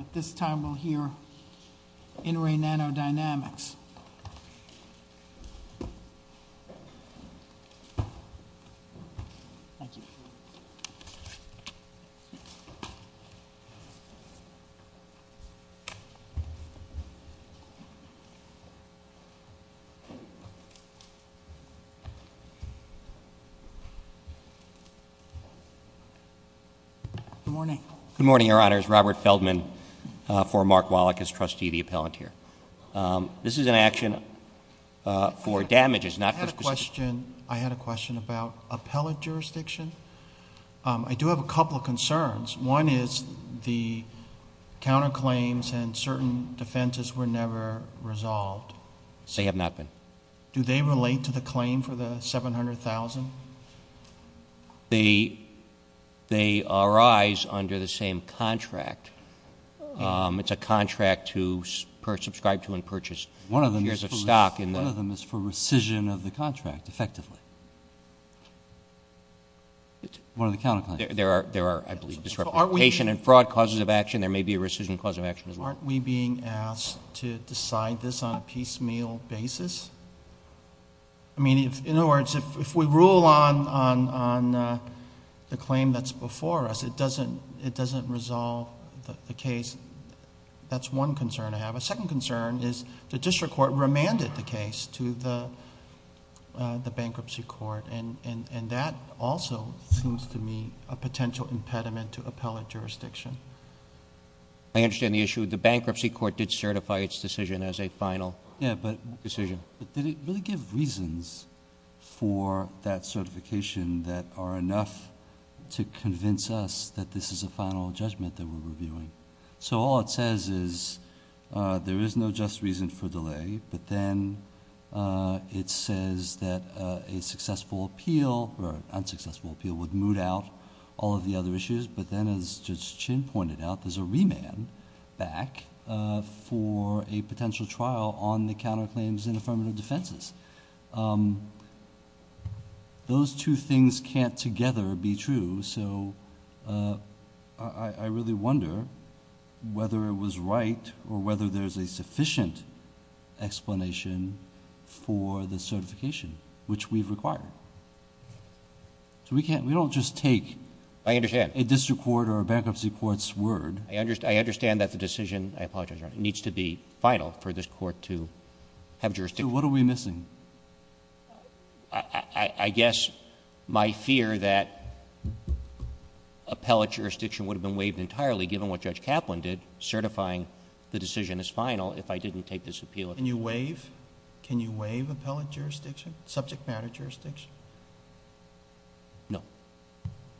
At this time, we'll hear In Re NanoDyamics. Good morning. Good morning, Your Honors. Robert Feldman for Mark Wallach as trustee of the appellant here. Um, this is an action, uh, for damages. Not for specific. I had a question about appellate jurisdiction. Um, I do have a couple of concerns. One is the counterclaims and certain defenses were never resolved. They have not been. Do they relate to the claim for the 700,000? Um, they, they arise under the same contract. Um, it's a contract to per subscribe to and purchase one of the years of stock in the, one of them is for rescission of the contract effectively. One of the counterclaims there are, there are, I believe, disreputation and fraud causes of action. There may be a rescission cause of action as well. Aren't we being asked to decide this on a piecemeal basis? I mean, if, in other words, if, if we rule on, on, on, uh, the claim that's before us, it doesn't, it doesn't resolve the case. That's one concern I have. A second concern is the district court remanded the case to the, uh, the bankruptcy court and, and, and that also seems to me a potential impediment to appellate jurisdiction. I understand the issue. The bankruptcy court did certify its decision as a final decision. But did it really give reasons for that certification that are enough to convince us that this is a final judgment that we're reviewing? So all it says is, uh, there is no just reason for delay, but then, uh, it says that, uh, a successful appeal or unsuccessful appeal would moot out all of the other issues. But then as Judge Chin pointed out, there's a remand back, uh, for a defense, um, those two things can't together be true. So, uh, I, I really wonder whether it was right or whether there's a sufficient explanation for the certification, which we've required. So we can't, we don't just take... I understand.... a district court or a bankruptcy court's word. I understand. I understand that the decision, I apologize, Your Honor, needs to be final for this court to have jurisdiction. So what are we missing? I, I guess my fear that appellate jurisdiction would have been waived entirely given what Judge Kaplan did, certifying the decision as final, if I didn't take this appeal. Can you waive, can you waive appellate jurisdiction, subject matter jurisdiction? No,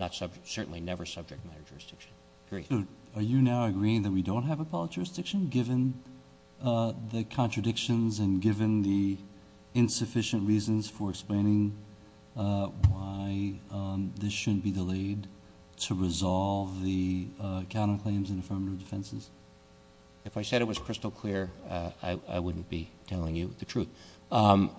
not subject, certainly never subject matter jurisdiction. Great. Are you now agreeing that we don't have appellate jurisdiction given, uh, the insufficient reasons for explaining, uh, why, um, this shouldn't be delayed to resolve the, uh, counterclaims and affirmative defenses? If I said it was crystal clear, uh, I, I wouldn't be telling you the truth. Um,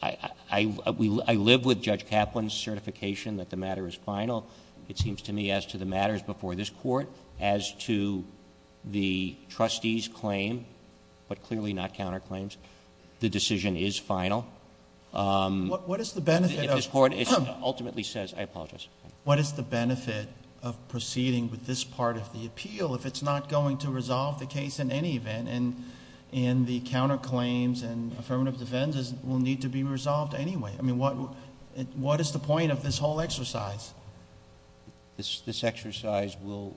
I, I, I, we, I live with Judge Kaplan's certification that the matter is final. It seems to me as to the matters before this court, as to the trustee's claim, but clearly not counterclaims, the decision is final. Um, what is the benefit of, ultimately says, I apologize. What is the benefit of proceeding with this part of the appeal? If it's not going to resolve the case in any event and, and the counterclaims and affirmative defenses will need to be resolved anyway. I mean, what, what is the point of this whole exercise? This, this exercise will,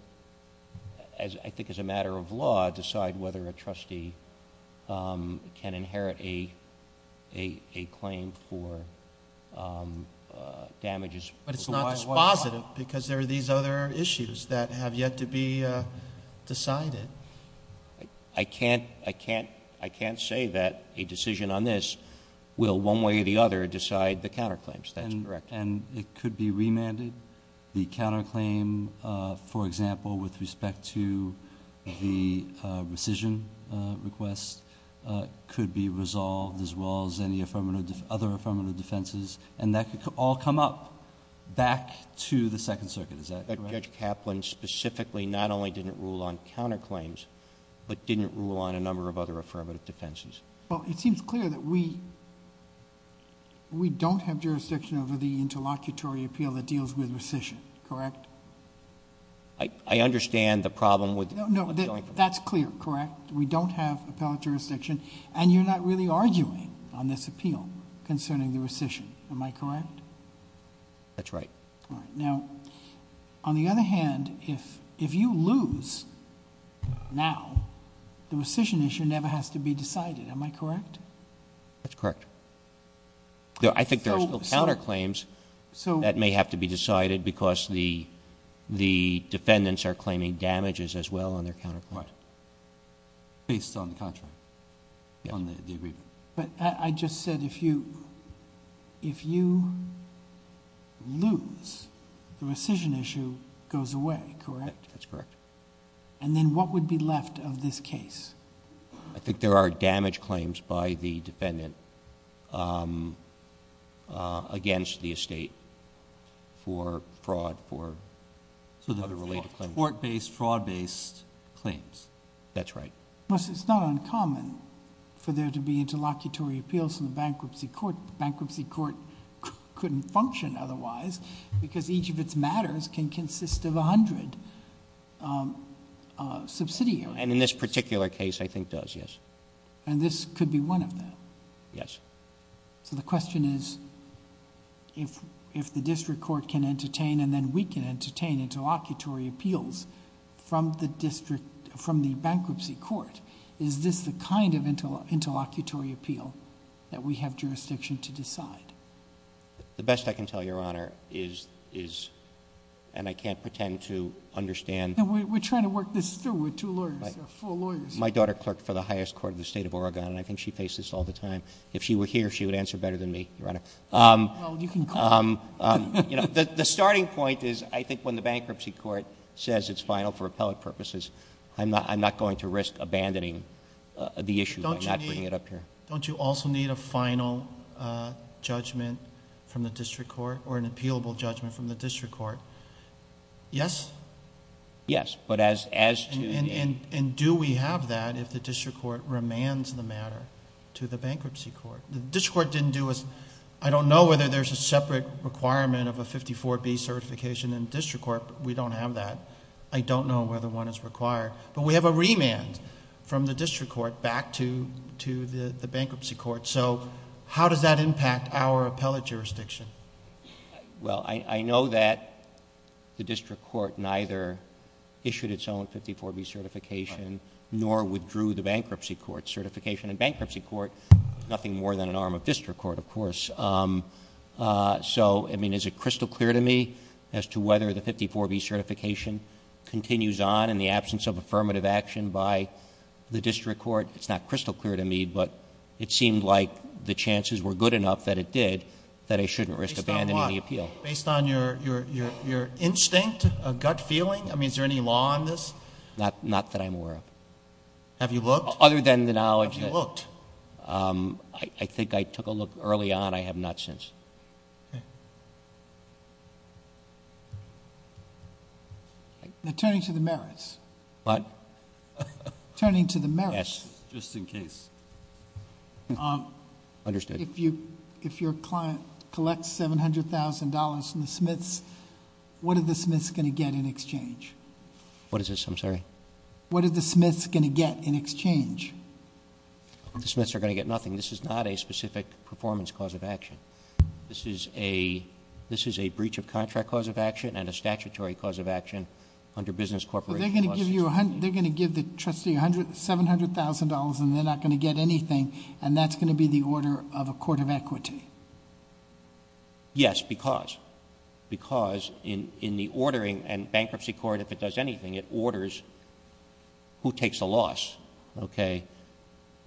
as I think as a matter of law, decide whether a trustee, um, can inherit a, a, a claim for, um, uh, damages. But it's not dispositive because there are these other issues that have yet to be, uh, decided. I can't, I can't, I can't say that a decision on this will one way or the other decide the counterclaims, that's correct. And it could be remanded. The counterclaim, uh, for example, with respect to the, uh, rescission, uh, request, uh, could be resolved as well as any affirmative, other affirmative defenses, and that could all come up back to the Second Circuit. Is that correct? Judge Kaplan specifically not only didn't rule on counterclaims, but didn't rule on a number of other affirmative defenses. Well, it seems clear that we, we don't have jurisdiction over the interlocutory appeal that deals with rescission, correct? I, I understand the problem with... No, no, that's clear, correct? We don't have appellate jurisdiction and you're not really arguing on this appeal concerning the rescission, am I correct? That's right. All right. Now, on the other hand, if, if you lose now, the rescission issue never has to be decided, am I correct? That's correct. I think there are still counterclaims that may have to be decided because the, the defendants are claiming damages as well on their counterclaim. Right. Based on the contract, on the agreement. But I, I just said if you, if you lose, the rescission issue goes away, correct? That's correct. And then what would be left of this case? I think there are damage claims by the defendant, um, uh, against the estate for fraud, for other related claims. Court-based, fraud-based claims. That's right. Plus it's not uncommon for there to be interlocutory appeals in the bankruptcy court. Bankruptcy court couldn't function otherwise because each of its matters can consist of a hundred, um, uh, subsidiaries. And in this particular case, I think does. Yes. And this could be one of them. Yes. So the question is if, if the district court can entertain and then we can entertain interlocutory appeals from the district, from the bankruptcy court, is this the kind of interlocutory appeal that we have jurisdiction to decide? The best I can tell your Honor is, is, and I can't pretend to understand. And we're trying to work this through with two lawyers. There are four lawyers. My daughter clerked for the highest court of the state of Oregon. And I think she faces all the time. If she were here, she would answer better than me. Your Honor. Um, um, you know, the, the starting point is I think when the bankruptcy court says it's final for appellate purposes, I'm not, I'm not going to risk abandoning the issue by not bringing it up here. Don't you also need a final, uh, judgment from the district court or an appealable judgment from the district court? Yes. Yes. But as, as to, and do we have that if the district court remands the matter to the bankruptcy court? The district court didn't do as, I don't know whether there's a separate requirement of a 54B certification in district court, but we don't have that. I don't know whether one is required, but we have a remand from the district court back to, to the bankruptcy court. So how does that impact our appellate jurisdiction? Well, I know that the district court neither issued its own 54B certification nor withdrew the bankruptcy court certification and bankruptcy court, nothing more than an arm of district court, of course. Um, uh, so, I mean, is it crystal clear to me as to whether the 54B certification continues on in the absence of affirmative action by the district court? It's not crystal clear to me, but it seemed like the chances were good enough that it did, that I shouldn't risk abandoning the appeal. Based on your, your, your, your instinct, a gut feeling. I mean, is there any law on this? Not, not that I'm aware of. Have you looked? Other than the knowledge that, um, I think I took a look early on. I have not since. Turning to the merits. Turning to the merits, just in case. Um, if you, if your client collects $700,000 from the Smiths, what are the Smiths going to get in exchange? What is this? I'm sorry. What are the Smiths going to get in exchange? The Smiths are going to get nothing. This is not a specific performance cause of action. This is a, this is a breach of contract cause of action and a statutory cause of action under business corporation. They're going to give the trustee a hundred, $700,000, and they're not going to get anything. And that's going to be the order of a court of equity. Yes, because, because in, in the ordering and bankruptcy court, if it does anything, it orders who takes a loss. Okay.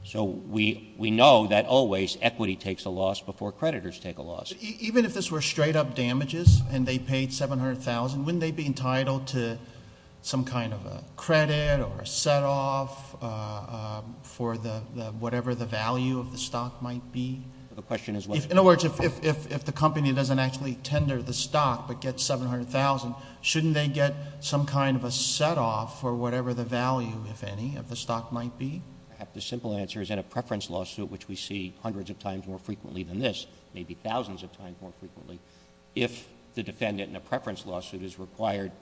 So we, we know that always equity takes a loss before creditors take a loss. Even if this were straight up damages and they paid $700,000, wouldn't they be entitled to some kind of a credit or a set off for the, the, whatever the value of the stock might be? The question is what? In other words, if, if, if the company doesn't actually tender the stock, but gets $700,000, shouldn't they get some kind of a set off for whatever the value, if any, of the stock might be? The simple answer is in a preference lawsuit, which we see hundreds of times more frequently than this, maybe thousands of times more frequently. If the defendant in a preference lawsuit is required,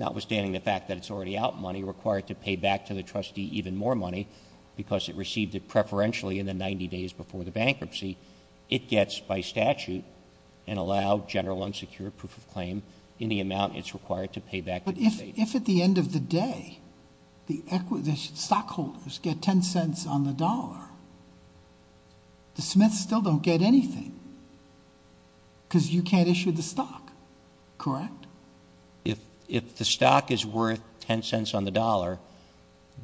notwithstanding the fact that it's already out money required to pay back to the trustee, even more money because it received it preferentially in the 90 days before the bankruptcy, it gets by statute and allow general unsecured proof of claim in the amount it's required to pay back. But if, if at the end of the day, the equity, the stockholders get $0.10 on the dollar, the Smiths still don't get anything because you can't issue the stock, correct? If, if the stock is worth $0.10 on the dollar,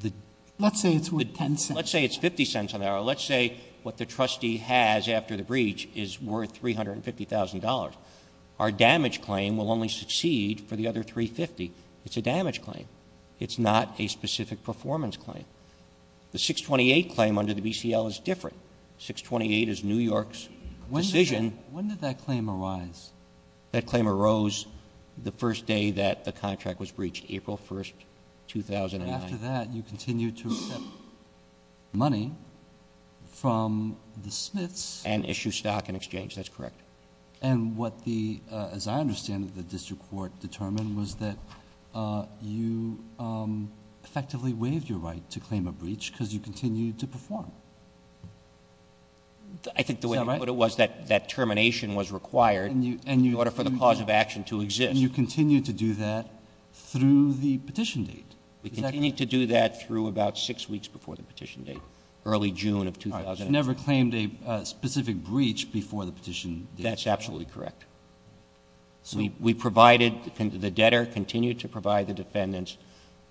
the- Let's say it's worth $0.10. Let's say it's $0.50 on the dollar. Let's say what the trustee has after the breach is worth $350,000. Our damage claim will only succeed for the other $350,000. It's a damage claim. It's not a specific performance claim. The 628 claim under the BCL is different. 628 is New York's decision. When did that claim arise? That claim arose the first day that the contract was breached, April 1st, 2009. After that, you continue to accept money from the Smiths. And issue stock in exchange, that's correct. And what the, as I understand it, the district court determined was that you effectively waived your right to claim a breach because you continued to perform. Is that right? I think the way you put it was that termination was required in order for the cause of action to exist. And you continue to do that through the petition date. We continue to do that through about six weeks before the petition date. Early June of 2000. You've never claimed a specific breach before the petition date. That's absolutely correct. We provided, the debtor continued to provide the defendants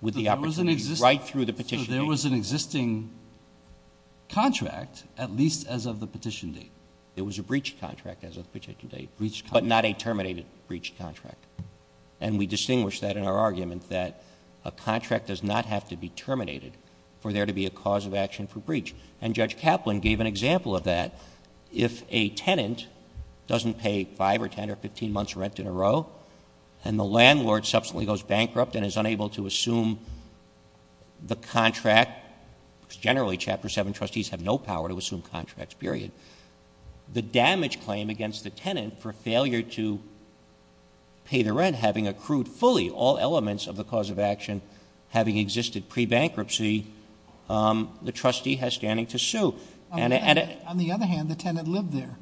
with the opportunity, right through the petition date. There was an existing contract, at least as of the petition date. It was a breach contract as of the petition date, but not a terminated breach contract. And we distinguish that in our argument that a contract does not have to be terminated for there to be a cause of action for breach. And Judge Kaplan gave an example of that. If a tenant doesn't pay five or ten or 15 months rent in a row, and the landlord subsequently goes bankrupt and is unable to assume the contract, generally chapter seven trustees have no power to assume contracts, period. The damage claim against the tenant for failure to pay the rent, having accrued fully all elements of the cause of action, having existed pre-bankruptcy, the trustee has standing to sue. And- On the other hand, the tenant lived there.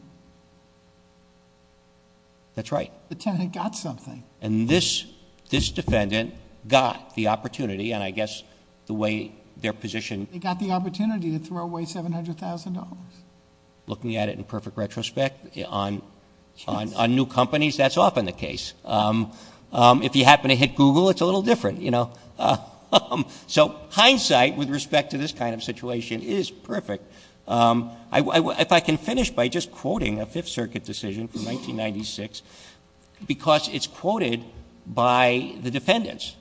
That's right. The tenant got something. And this defendant got the opportunity, and I guess the way their position- They got the opportunity to throw away $700,000. Looking at it in perfect retrospect, on new companies, that's often the case. If you happen to hit Google, it's a little different, you know? So hindsight, with respect to this kind of situation, is perfect. If I can finish by just quoting a Fifth Circuit decision from 1996, because it's quoted by the defendants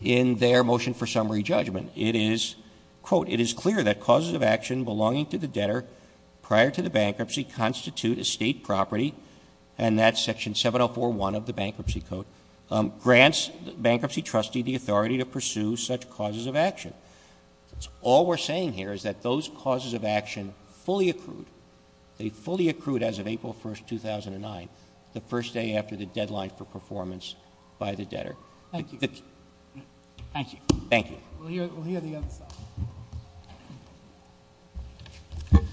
in their motion for summary judgment. It is, quote, it is clear that causes of action belonging to the debtor prior to the bankruptcy constitute a state property. And that section 7041 of the bankruptcy code grants bankruptcy trustee the authority to pursue such causes of action. All we're saying here is that those causes of action fully accrued. They fully accrued as of April 1st, 2009, the first day after the deadline for performance by the debtor. Thank you. Thank you. Thank you. We'll hear the other side. Good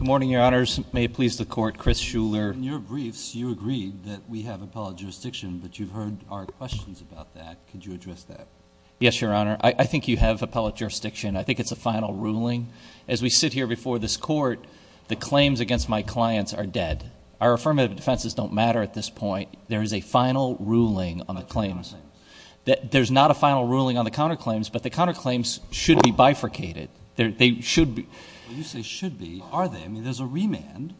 morning, your honors. May it please the court. I'm Chris Shuler. In your briefs, you agreed that we have appellate jurisdiction, but you've heard our questions about that. Could you address that? Yes, your honor. I think you have appellate jurisdiction. I think it's a final ruling. As we sit here before this court, the claims against my clients are dead. Our affirmative defenses don't matter at this point. There is a final ruling on the claims. There's not a final ruling on the counterclaims, but the counterclaims should be bifurcated. They should be. You say should be. Are they? I mean, there's a remand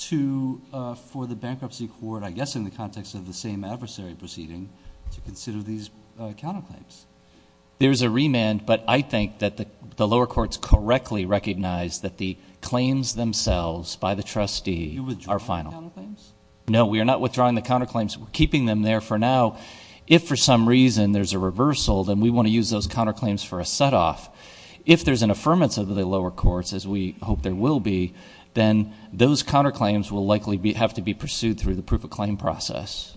for the bankruptcy court, I guess in the context of the same adversary proceeding, to consider these counterclaims. There's a remand, but I think that the lower courts correctly recognize that the claims themselves by the trustee are final. You're withdrawing the counterclaims? No, we are not withdrawing the counterclaims. We're keeping them there for now. If for some reason there's a reversal, then we want to use those counterclaims for a set off. If there's an affirmance of the lower courts, as we hope there will be, then those counterclaims will likely have to be pursued through the proof of claim process.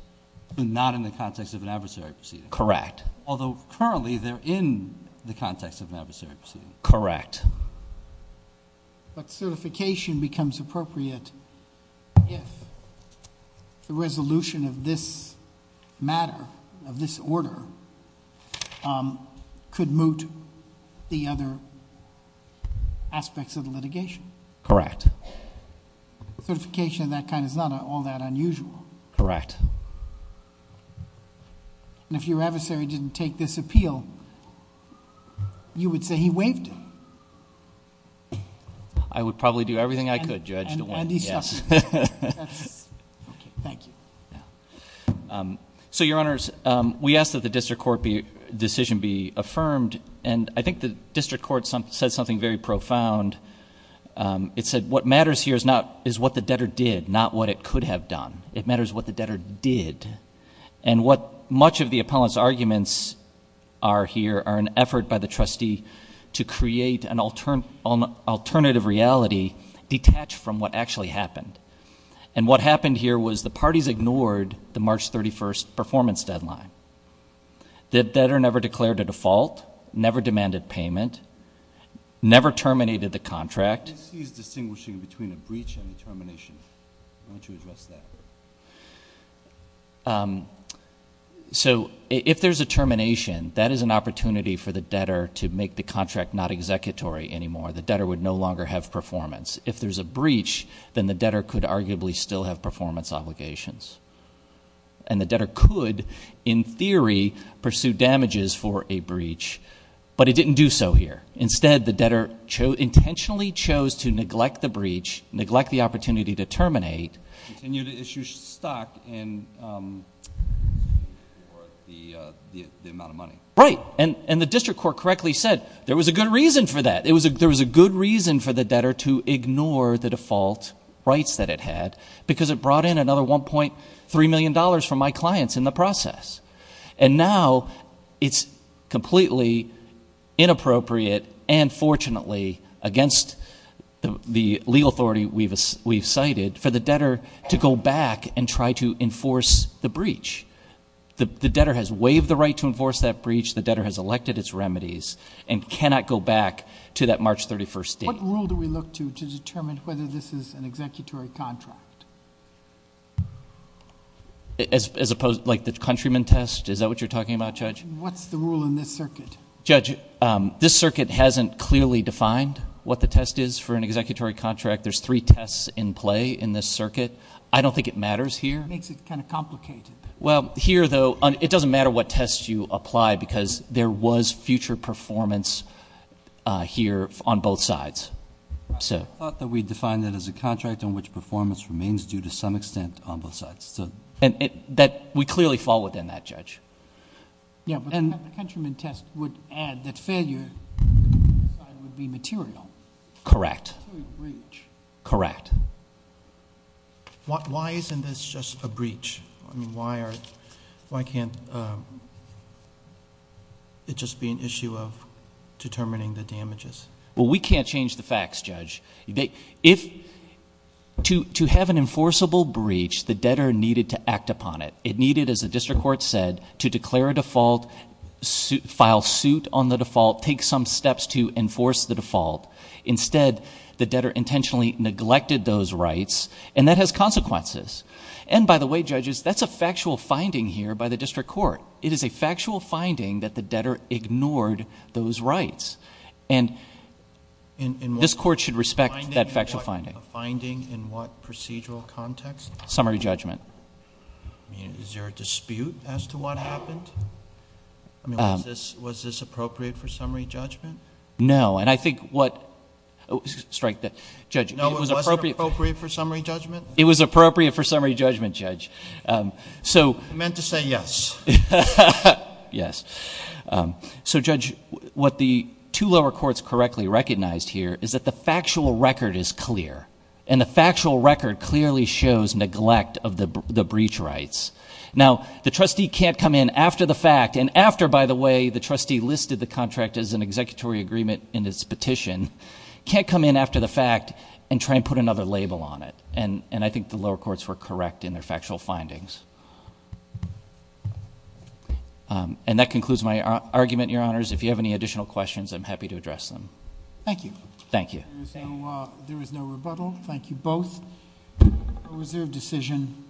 But not in the context of an adversary proceeding? Correct. Although currently, they're in the context of an adversary proceeding. Correct. But certification becomes appropriate if the resolution of this matter, of this order, could moot the other aspects of the litigation. Correct. Certification of that kind is not all that unusual. Correct. And if your adversary didn't take this appeal, you would say he waived it. I would probably do everything I could, Judge, to win. And he's tough. Thank you. Yeah. So, your honors, we ask that the district court decision be affirmed. And I think the district court said something very profound. It said, what matters here is what the debtor did, not what it could have done. It matters what the debtor did. And what much of the appellant's arguments are here are an effort by the trustee to create an alternative reality detached from what actually happened. And what happened here was the parties ignored the March 31st performance deadline. The debtor never declared a default, never demanded payment, never terminated the contract. This is distinguishing between a breach and a termination. Why don't you address that? So, if there's a termination, that is an opportunity for the debtor to make the contract not executory anymore. The debtor would no longer have performance. If there's a breach, then the debtor could arguably still have performance obligations. And the debtor could, in theory, pursue damages for a breach. But it didn't do so here. Instead, the debtor intentionally chose to neglect the breach, neglect the opportunity to terminate. And you issued stock in the amount of money. Right, and the district court correctly said there was a good reason for that. Ignore the default rights that it had, because it brought in another $1.3 million from my clients in the process. And now, it's completely inappropriate and fortunately against the legal authority we've cited for the debtor to go back and try to enforce the breach. The debtor has waived the right to enforce that breach. The debtor has elected its remedies and cannot go back to that March 31st date. What rule do we look to, to determine whether this is an executory contract? As opposed, like the countryman test? Is that what you're talking about, Judge? What's the rule in this circuit? Judge, this circuit hasn't clearly defined what the test is for an executory contract. There's three tests in play in this circuit. I don't think it matters here. It makes it kind of complicated. Well, here though, it doesn't matter what test you apply, because there was future performance here on both sides. So- I thought that we defined it as a contract in which performance remains due to some extent on both sides, so. And that we clearly fall within that, Judge. Yeah, but the countryman test would add that failure would be material. Correct. To a breach. Correct. Why isn't this just a breach? Why can't it just be an issue of determining the damages? Well, we can't change the facts, Judge. If, to have an enforceable breach, the debtor needed to act upon it. It needed, as the district court said, to declare a default, file suit on the default, take some steps to enforce the default. Instead, the debtor intentionally neglected those rights, and that has consequences. And by the way, judges, that's a factual finding here by the district court. It is a factual finding that the debtor ignored those rights. And this court should respect that factual finding. A finding in what procedural context? Summary judgment. I mean, is there a dispute as to what happened? I mean, was this appropriate for summary judgment? No, and I think what, strike that, judge. No, it wasn't appropriate for summary judgment? It was appropriate for summary judgment, Judge. So- I meant to say yes. Yes. So Judge, what the two lower courts correctly recognized here is that the factual record is clear. And the factual record clearly shows neglect of the breach rights. Now, the trustee can't come in after the fact, and after, by the way, the trustee listed the contract as an executory agreement in its petition, can't come in after the fact and try and put another label on it. And I think the lower courts were correct in their factual findings. And that concludes my argument, your honors. If you have any additional questions, I'm happy to address them. Thank you. Thank you. There is no rebuttal. Thank you both. A reserved decision.